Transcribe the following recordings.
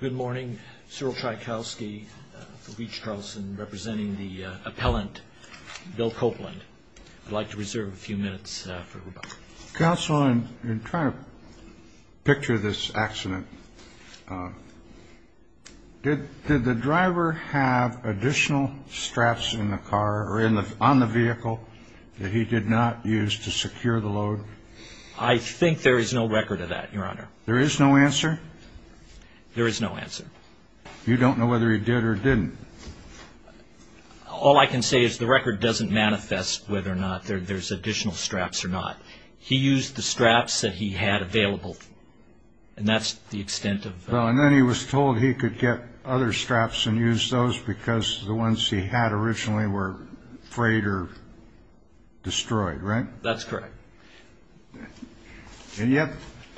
Good morning. Cyril Tchaikovsky for Beach-Charleston, representing the appellant Bill Copeland. I'd like to reserve a few minutes for rebuttal. Counsel, in trying to picture this accident, did the driver have additional straps in the car or on the vehicle that he did not use to secure the load? I think there is no record of that, Your Honor. There is no answer? There is no answer. You don't know whether he did or didn't? All I can say is the record doesn't manifest whether or not there's additional straps or not. He used the straps that he had available, and that's the extent of that. Well, and then he was told he could get other straps and use those because the ones he had originally were frayed or destroyed, right? That's correct. And yet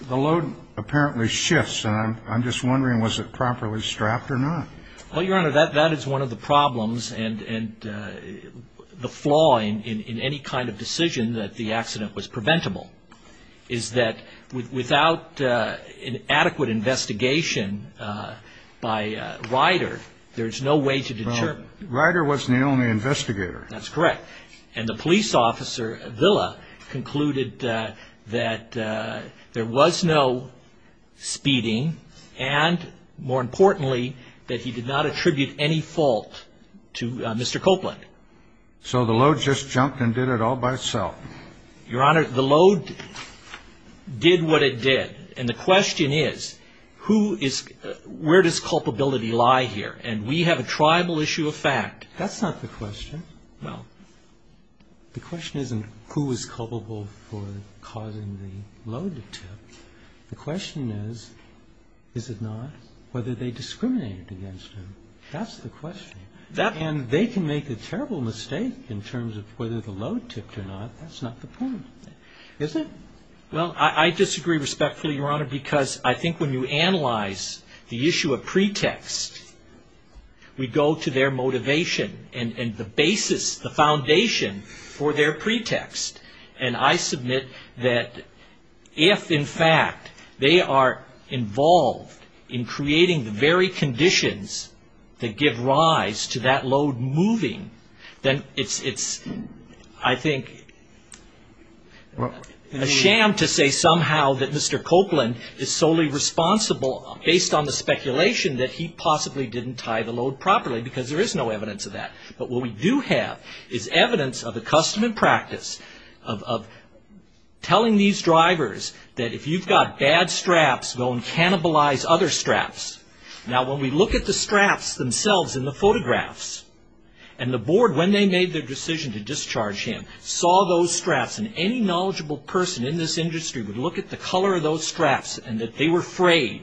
the load apparently shifts, and I'm just wondering, was it properly strapped or not? Well, Your Honor, that is one of the problems and the flaw in any kind of decision that the accident was preventable, is that without an adequate investigation by Ryder, there's no way to determine. Well, Ryder wasn't the only investigator. That's correct. And the police officer, Villa, concluded that there was no speeding and, more importantly, that he did not attribute any fault to Mr. Copeland. So the load just jumped and did it all by itself? Your Honor, the load did what it did, and the question is, where does culpability lie here? And we have a tribal issue of fact. That's not the question. No. The question isn't who is culpable for causing the load to tip. The question is, is it not, whether they discriminated against him. That's the question. And they can make a terrible mistake in terms of whether the load tipped or not. That's not the point, is it? Well, I disagree respectfully, Your Honor, because I think when you analyze the issue of pretext, we go to their motivation and the basis, the foundation for their pretext. And I submit that if, in fact, they are involved in creating the very conditions that give rise to that load moving, then it's, I think, a shame to say somehow that Mr. Copeland is solely responsible, based on the speculation that he possibly didn't tie the load properly, because there is no evidence of that. But what we do have is evidence of the custom and practice of telling these drivers that if you've got bad straps, go and cannibalize other straps. Now, when we look at the straps themselves in the photographs, and the board, when they made their decision to discharge him, saw those straps, and any knowledgeable person in this industry would look at the color of those straps and that they were frayed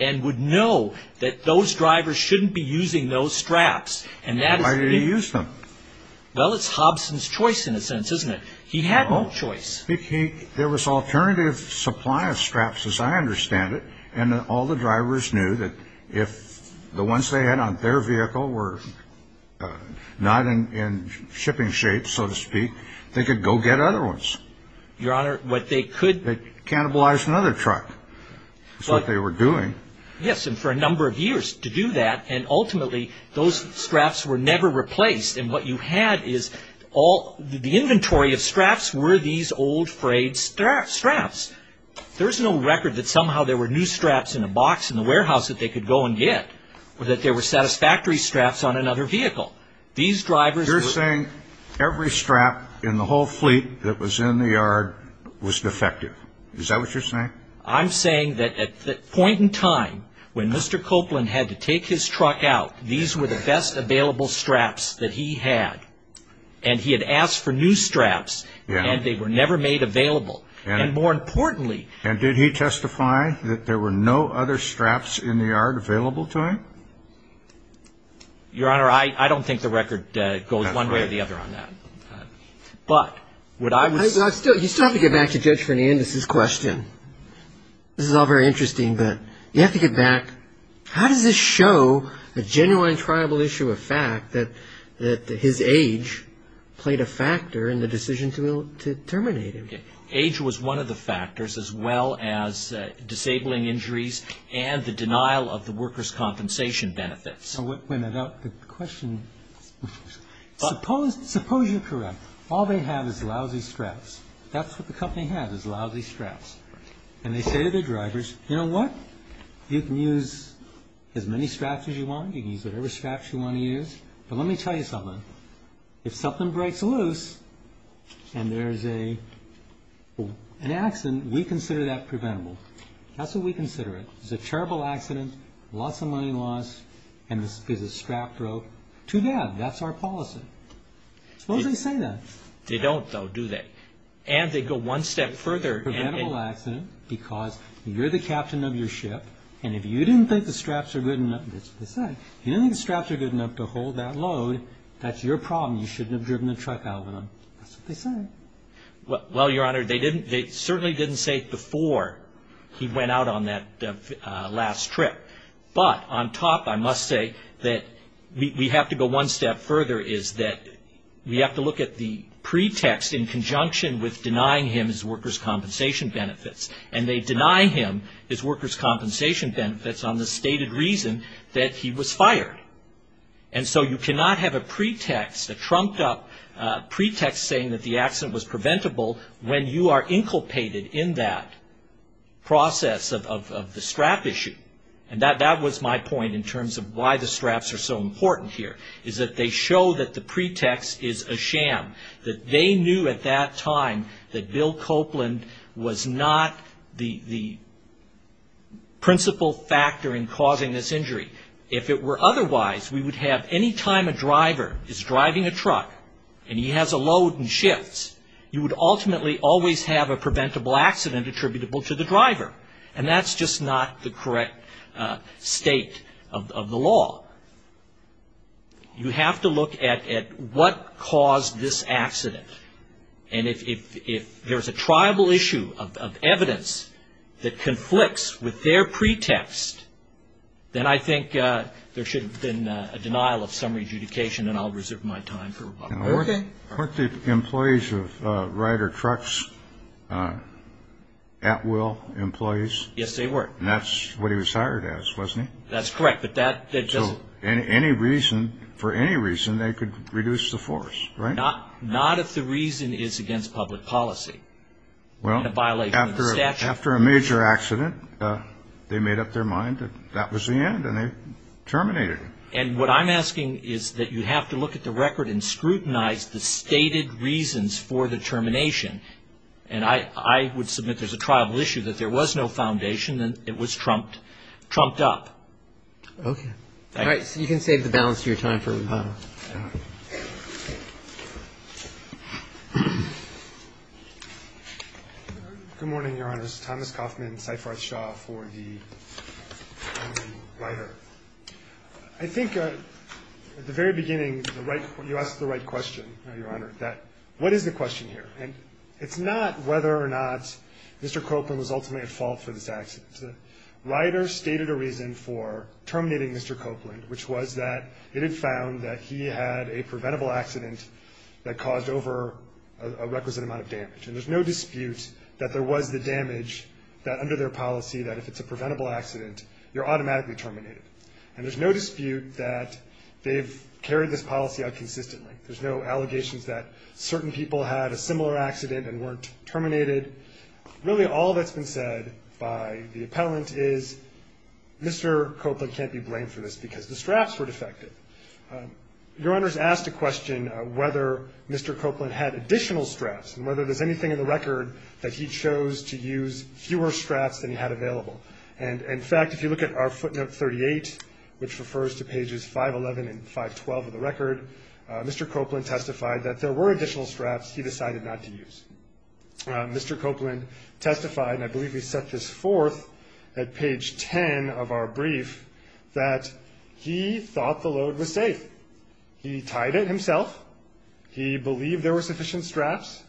and would know that those drivers shouldn't be using those straps. Why did he use them? Well, it's Hobson's choice, in a sense, isn't it? He had no choice. There was alternative supply of straps, as I understand it, and all the drivers knew that if the ones they had on their vehicle were not in shipping shape, so to speak, they could go get other ones. Your Honor, what they could... They cannibalized another truck, is what they were doing. Yes, and for a number of years to do that, and ultimately those straps were never replaced. And what you had is all... The inventory of straps were these old frayed straps. There's no record that somehow there were new straps in a box in the warehouse that they could go and get, or that there were satisfactory straps on another vehicle. These drivers... You're saying every strap in the whole fleet that was in the yard was defective. Is that what you're saying? I'm saying that at the point in time when Mr. Copeland had to take his truck out, these were the best available straps that he had, and he had asked for new straps, and they were never made available. And more importantly... And did he testify that there were no other straps in the yard available to him? Your Honor, I don't think the record goes one way or the other on that. But would I... You still have to get back to Judge Fernandez's question. This is all very interesting, but you have to get back, how does this show the genuine tribal issue of fact that his age played a factor in the decision to terminate him? Age was one of the factors, as well as disabling injuries and the denial of the workers' compensation benefits. Wait a minute. The question... Suppose you're correct. All they have is lousy straps. That's what the company has, is lousy straps. And they say to their drivers, you know what? You can use as many straps as you want. You can use whatever straps you want to use. But let me tell you something. If something breaks loose and there's an accident, we consider that preventable. That's what we consider it. If there's a terrible accident, lots of money lost, and the strap broke, too bad. That's our policy. Suppose they say that. They don't, though, do they? And they go one step further. Preventable accident, because you're the captain of your ship, and if you didn't think the straps were good enough to hold that load, that's your problem. You shouldn't have driven the truck out of it. That's what they say. Well, Your Honor, they certainly didn't say before he went out on that last trip. But on top, I must say that we have to go one step further, is that we have to look at the pretext in conjunction with denying him his workers' compensation benefits. And they deny him his workers' compensation benefits on the stated reason that he was fired. And so you cannot have a pretext, a trumped-up pretext, saying that the accident was preventable when you are inculpated in that process of the strap issue. And that was my point in terms of why the straps are so important here, is that they show that the pretext is a sham, that they knew at that time that Bill Copeland was not the principal factor in causing this injury. If it were otherwise, we would have any time a driver is driving a truck and he has a load and shifts, you would ultimately always have a preventable accident attributable to the driver. And that's just not the correct state of the law. You have to look at what caused this accident. And if there's a tribal issue of evidence that conflicts with their pretext, then I think there should have been a denial of summary adjudication and I'll reserve my time for rebuttal. Okay. Weren't the employees of Rider Trucks at will employees? Yes, they were. And that's what he was hired as, wasn't he? That's correct. So for any reason, they could reduce the force, right? Not if the reason is against public policy and a violation of the statute. After a major accident, they made up their mind that that was the end and they terminated him. And what I'm asking is that you have to look at the record and scrutinize the stated reasons for the termination. And I would submit there's a tribal issue that there was no foundation and it was trumped up. Okay. All right. So you can save the balance of your time for rebuttal. All right. Good morning, Your Honor. This is Thomas Kaufman, Saif Arthshah for the Rider. I think at the very beginning, you asked the right question, Your Honor, that what is the question here? And it's not whether or not Mr. Copeland was ultimately at fault for this accident. The Rider stated a reason for terminating Mr. Copeland, which was that it had found that he had a preventable accident that caused over a requisite amount of damage. And there's no dispute that there was the damage that under their policy, that if it's a preventable accident, you're automatically terminated. And there's no dispute that they've carried this policy out consistently. There's no allegations that certain people had a similar accident and weren't terminated. Really, all that's been said by the appellant is Mr. Copeland can't be blamed for this because the straps were defective. Your Honor's asked a question whether Mr. Copeland had additional straps and whether there's anything in the record that he chose to use fewer straps than he had available. And, in fact, if you look at our footnote 38, which refers to pages 511 and 512 of the record, Mr. Copeland testified that there were additional straps he decided not to use. Mr. Copeland testified, and I believe he set this forth at page 10 of our brief, that he thought the load was safe. He tied it himself. He believed there were sufficient straps.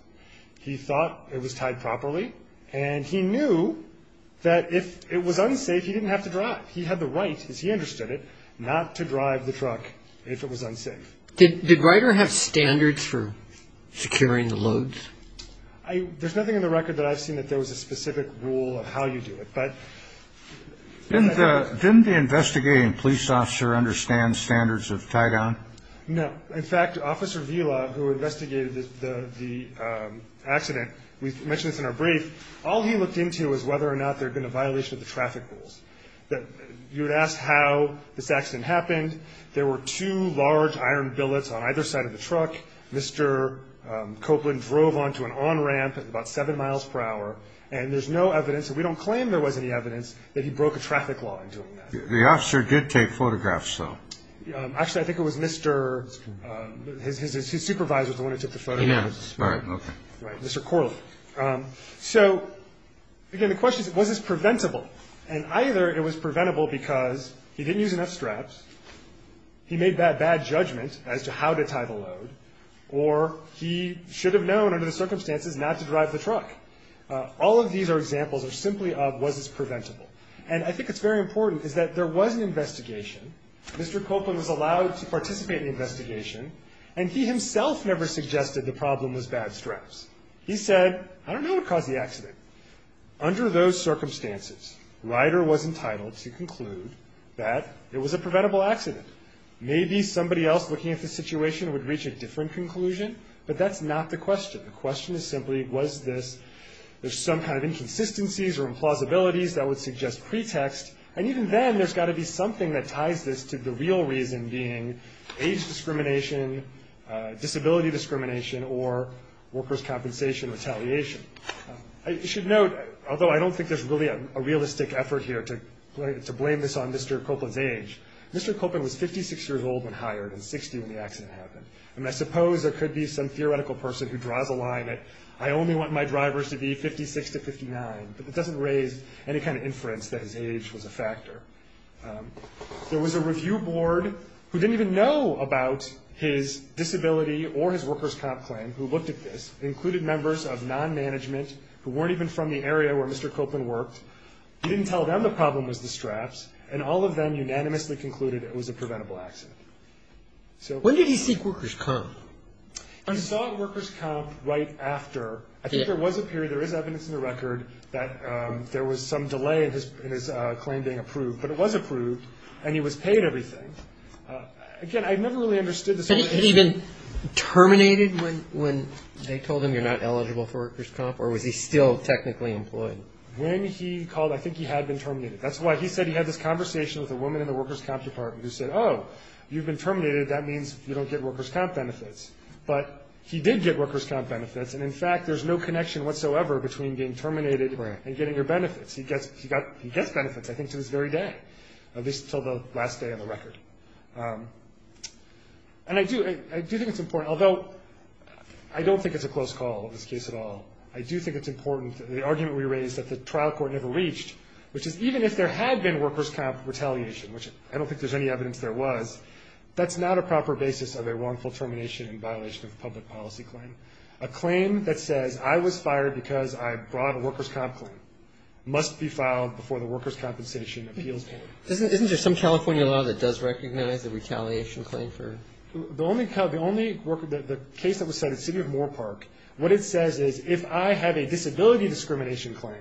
He thought it was tied properly. And he knew that if it was unsafe, he didn't have to drive. He had the right, as he understood it, not to drive the truck if it was unsafe. Did Ryder have standards for securing the loads? There's nothing in the record that I've seen that there was a specific rule of how you do it. Didn't the investigating police officer understand standards of tie-down? No. In fact, Officer Vela, who investigated the accident, we mentioned this in our brief, all he looked into was whether or not there had been a violation of the traffic rules. You would ask how this accident happened. There were two large iron billets on either side of the truck. Mr. Copeland drove onto an on-ramp at about 7 miles per hour. And there's no evidence, and we don't claim there was any evidence, that he broke a traffic law in doing that. The officer did take photographs, though. Actually, I think it was Mr. His supervisor is the one who took the photographs. Yes, right. Okay. Right, Mr. Corley. So, again, the question is, was this preventable? And either it was preventable because he didn't use enough straps, he made that bad judgment as to how to tie the load, or he should have known under the circumstances not to drive the truck. All of these are examples simply of was this preventable. And I think it's very important is that there was an investigation. Mr. Copeland was allowed to participate in the investigation, and he himself never suggested the problem was bad straps. He said, I don't know what caused the accident. Under those circumstances, Ryder was entitled to conclude that it was a preventable accident. Maybe somebody else looking at the situation would reach a different conclusion, but that's not the question. The question is simply was this. There's some kind of inconsistencies or implausibilities that would suggest pretext, and even then there's got to be something that ties this to the real reason being age discrimination, disability discrimination, or workers' compensation retaliation. I should note, although I don't think there's really a realistic effort here to blame this on Mr. Copeland's age, Mr. Copeland was 56 years old when hired and 60 when the accident happened. And I suppose there could be some theoretical person who draws a line that I only want my drivers to be 56 to 59, but that doesn't raise any kind of inference that his age was a factor. There was a review board who didn't even know about his disability or his workers' comp claim who looked at this and included members of non-management who weren't even from the area where Mr. Copeland worked. He didn't tell them the problem was the straps, and all of them unanimously concluded it was a preventable accident. When did he seek workers' comp? He sought workers' comp right after. I think there was a period, there is evidence in the record, that there was some delay in his claim being approved, but it was approved and he was paid everything. Again, I never really understood the situation. Was he even terminated when they told him you're not eligible for workers' comp, or was he still technically employed? When he called, I think he had been terminated. That's why he said he had this conversation with a woman in the workers' comp department who said, oh, you've been terminated, that means you don't get workers' comp benefits. But he did get workers' comp benefits, and in fact, there's no connection whatsoever between being terminated and getting your benefits. He gets benefits, I think, to this very day, at least until the last day of the record. And I do think it's important, although I don't think it's a close call in this case at all, I do think it's important, the argument we raised that the trial court never reached, which is even if there had been workers' comp retaliation, which I don't think there's any evidence there was, that's not a proper basis of a wrongful termination in violation of a public policy claim. A claim that says I was fired because I brought a workers' comp claim must be filed before the workers' compensation appeals board. Isn't there some California law that does recognize the retaliation claim for? The only case that was cited, City of Moorpark, what it says is if I have a disability discrimination claim,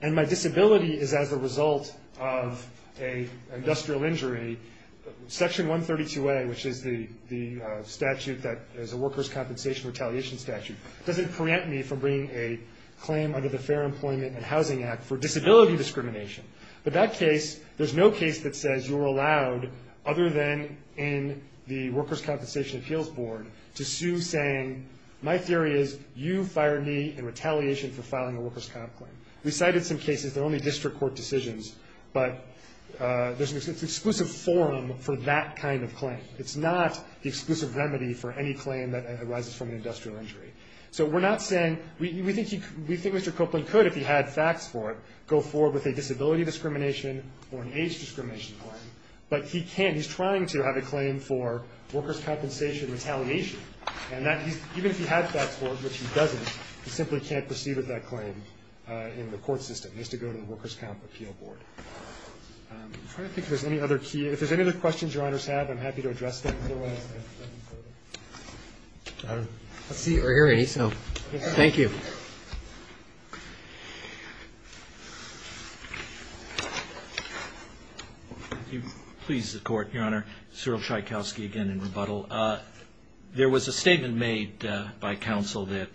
and my disability is as a result of an industrial injury, Section 132A, which is the statute that is a workers' compensation retaliation statute, doesn't prevent me from bringing a claim under the Fair Employment and Housing Act for disability discrimination. But that case, there's no case that says you're allowed, other than in the workers' compensation appeals board, to sue saying my theory is you fired me in retaliation for filing a workers' comp claim. We cited some cases, they're only district court decisions, but there's an exclusive forum for that kind of claim. It's not the exclusive remedy for any claim that arises from an industrial injury. So we're not saying, we think Mr. Copeland could, if he had facts for it, go forward with a disability discrimination or an age discrimination claim. But he can't. He's trying to have a claim for workers' compensation retaliation. And even if he had facts for it, which he doesn't, he simply can't proceed with that claim in the court system. It has to go to the workers' comp appeal board. I'm trying to think if there's any other key, if there's any other questions Your Honors have, I'm happy to address them. I don't see or hear any, so thank you. If you please, Your Honor. Cyril Sheikowski again in rebuttal. There was a statement made by counsel that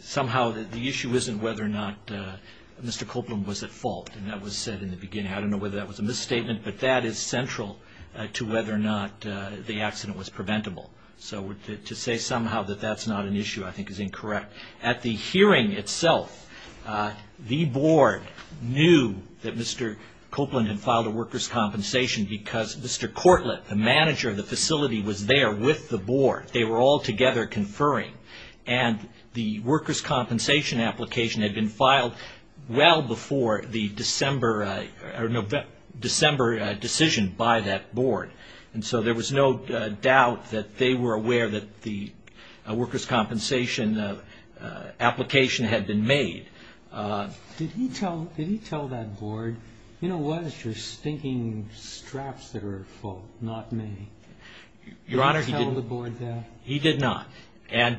somehow the issue isn't whether or not Mr. Copeland was at fault. And that was said in the beginning. I don't know whether that was a misstatement, but that is central to whether or not the accident was preventable. So to say somehow that that's not an issue I think is incorrect. At the hearing itself, the board knew that Mr. Copeland had filed a workers' compensation because Mr. Cortlett, the manager of the facility, was there with the board. They were all together conferring. And the workers' compensation application had been filed well before the December decision by that board. And so there was no doubt that they were aware that the workers' compensation application had been made. Did he tell that board, you know what, it's your stinking straps that are at fault, not me? Your Honor, he did not.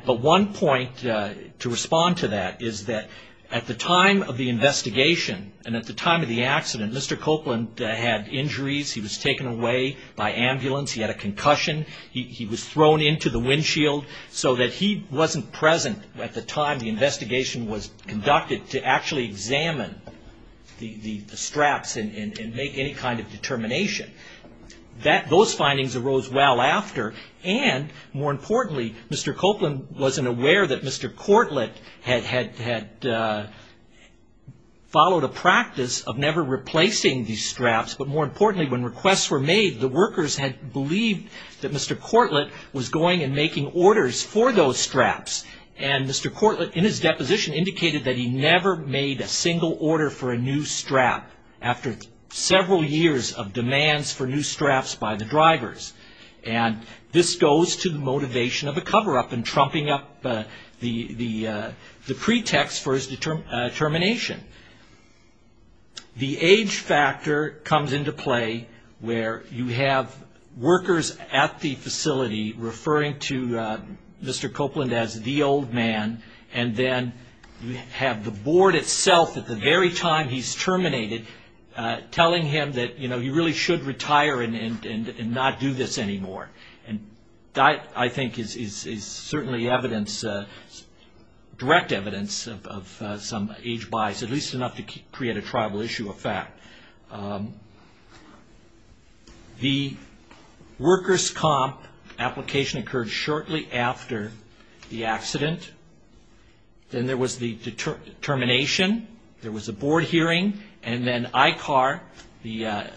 But one point to respond to that is that at the time of the investigation and at the time of the accident, Mr. Copeland had injuries. He was taken away by ambulance. He had a concussion. He was thrown into the windshield so that he wasn't present at the time the investigation was conducted Those findings arose well after. And more importantly, Mr. Copeland wasn't aware that Mr. Cortlett had followed a practice of never replacing these straps. But more importantly, when requests were made, the workers had believed that Mr. Cortlett was going and making orders for those straps. And Mr. Cortlett, in his deposition, indicated that he never made a single order for a new strap. After several years of demands for new straps by the drivers. And this goes to the motivation of a cover-up and trumping up the pretext for his determination. The age factor comes into play where you have workers at the facility referring to Mr. Copeland as the old man. And then you have the board itself, at the very time he's terminated, telling him that he really should retire and not do this anymore. And that, I think, is certainly direct evidence of some age bias. At least enough to create a tribal issue of fact. The workers' comp application occurred shortly after the accident. Then there was the termination. There was a board hearing. And then ICAR, the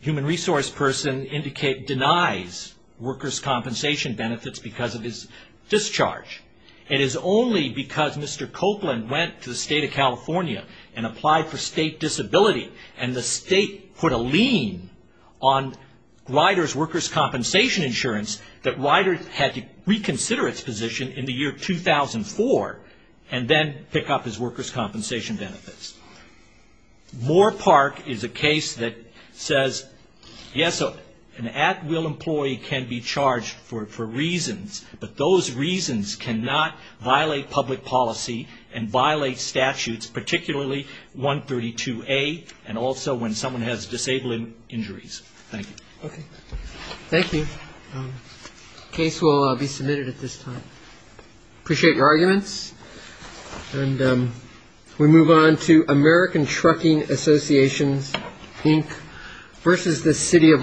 human resource person, denies workers' compensation benefits because of his discharge. It is only because Mr. Copeland went to the state of California and applied for state disability. And the state put a lien on riders' workers' compensation insurance that riders had to reconsider its position in the year 2004. And then pick up his workers' compensation benefits. Moore Park is a case that says, yes, an at-will employee can be charged for reasons. But those reasons cannot violate public policy and violate statutes, particularly 132A, and also when someone has disabling injuries. Thank you. Okay. Thank you. Case will be submitted at this time. Appreciate your arguments. And we move on to American Trucking Associations, Inc., versus the city of Los Angeles.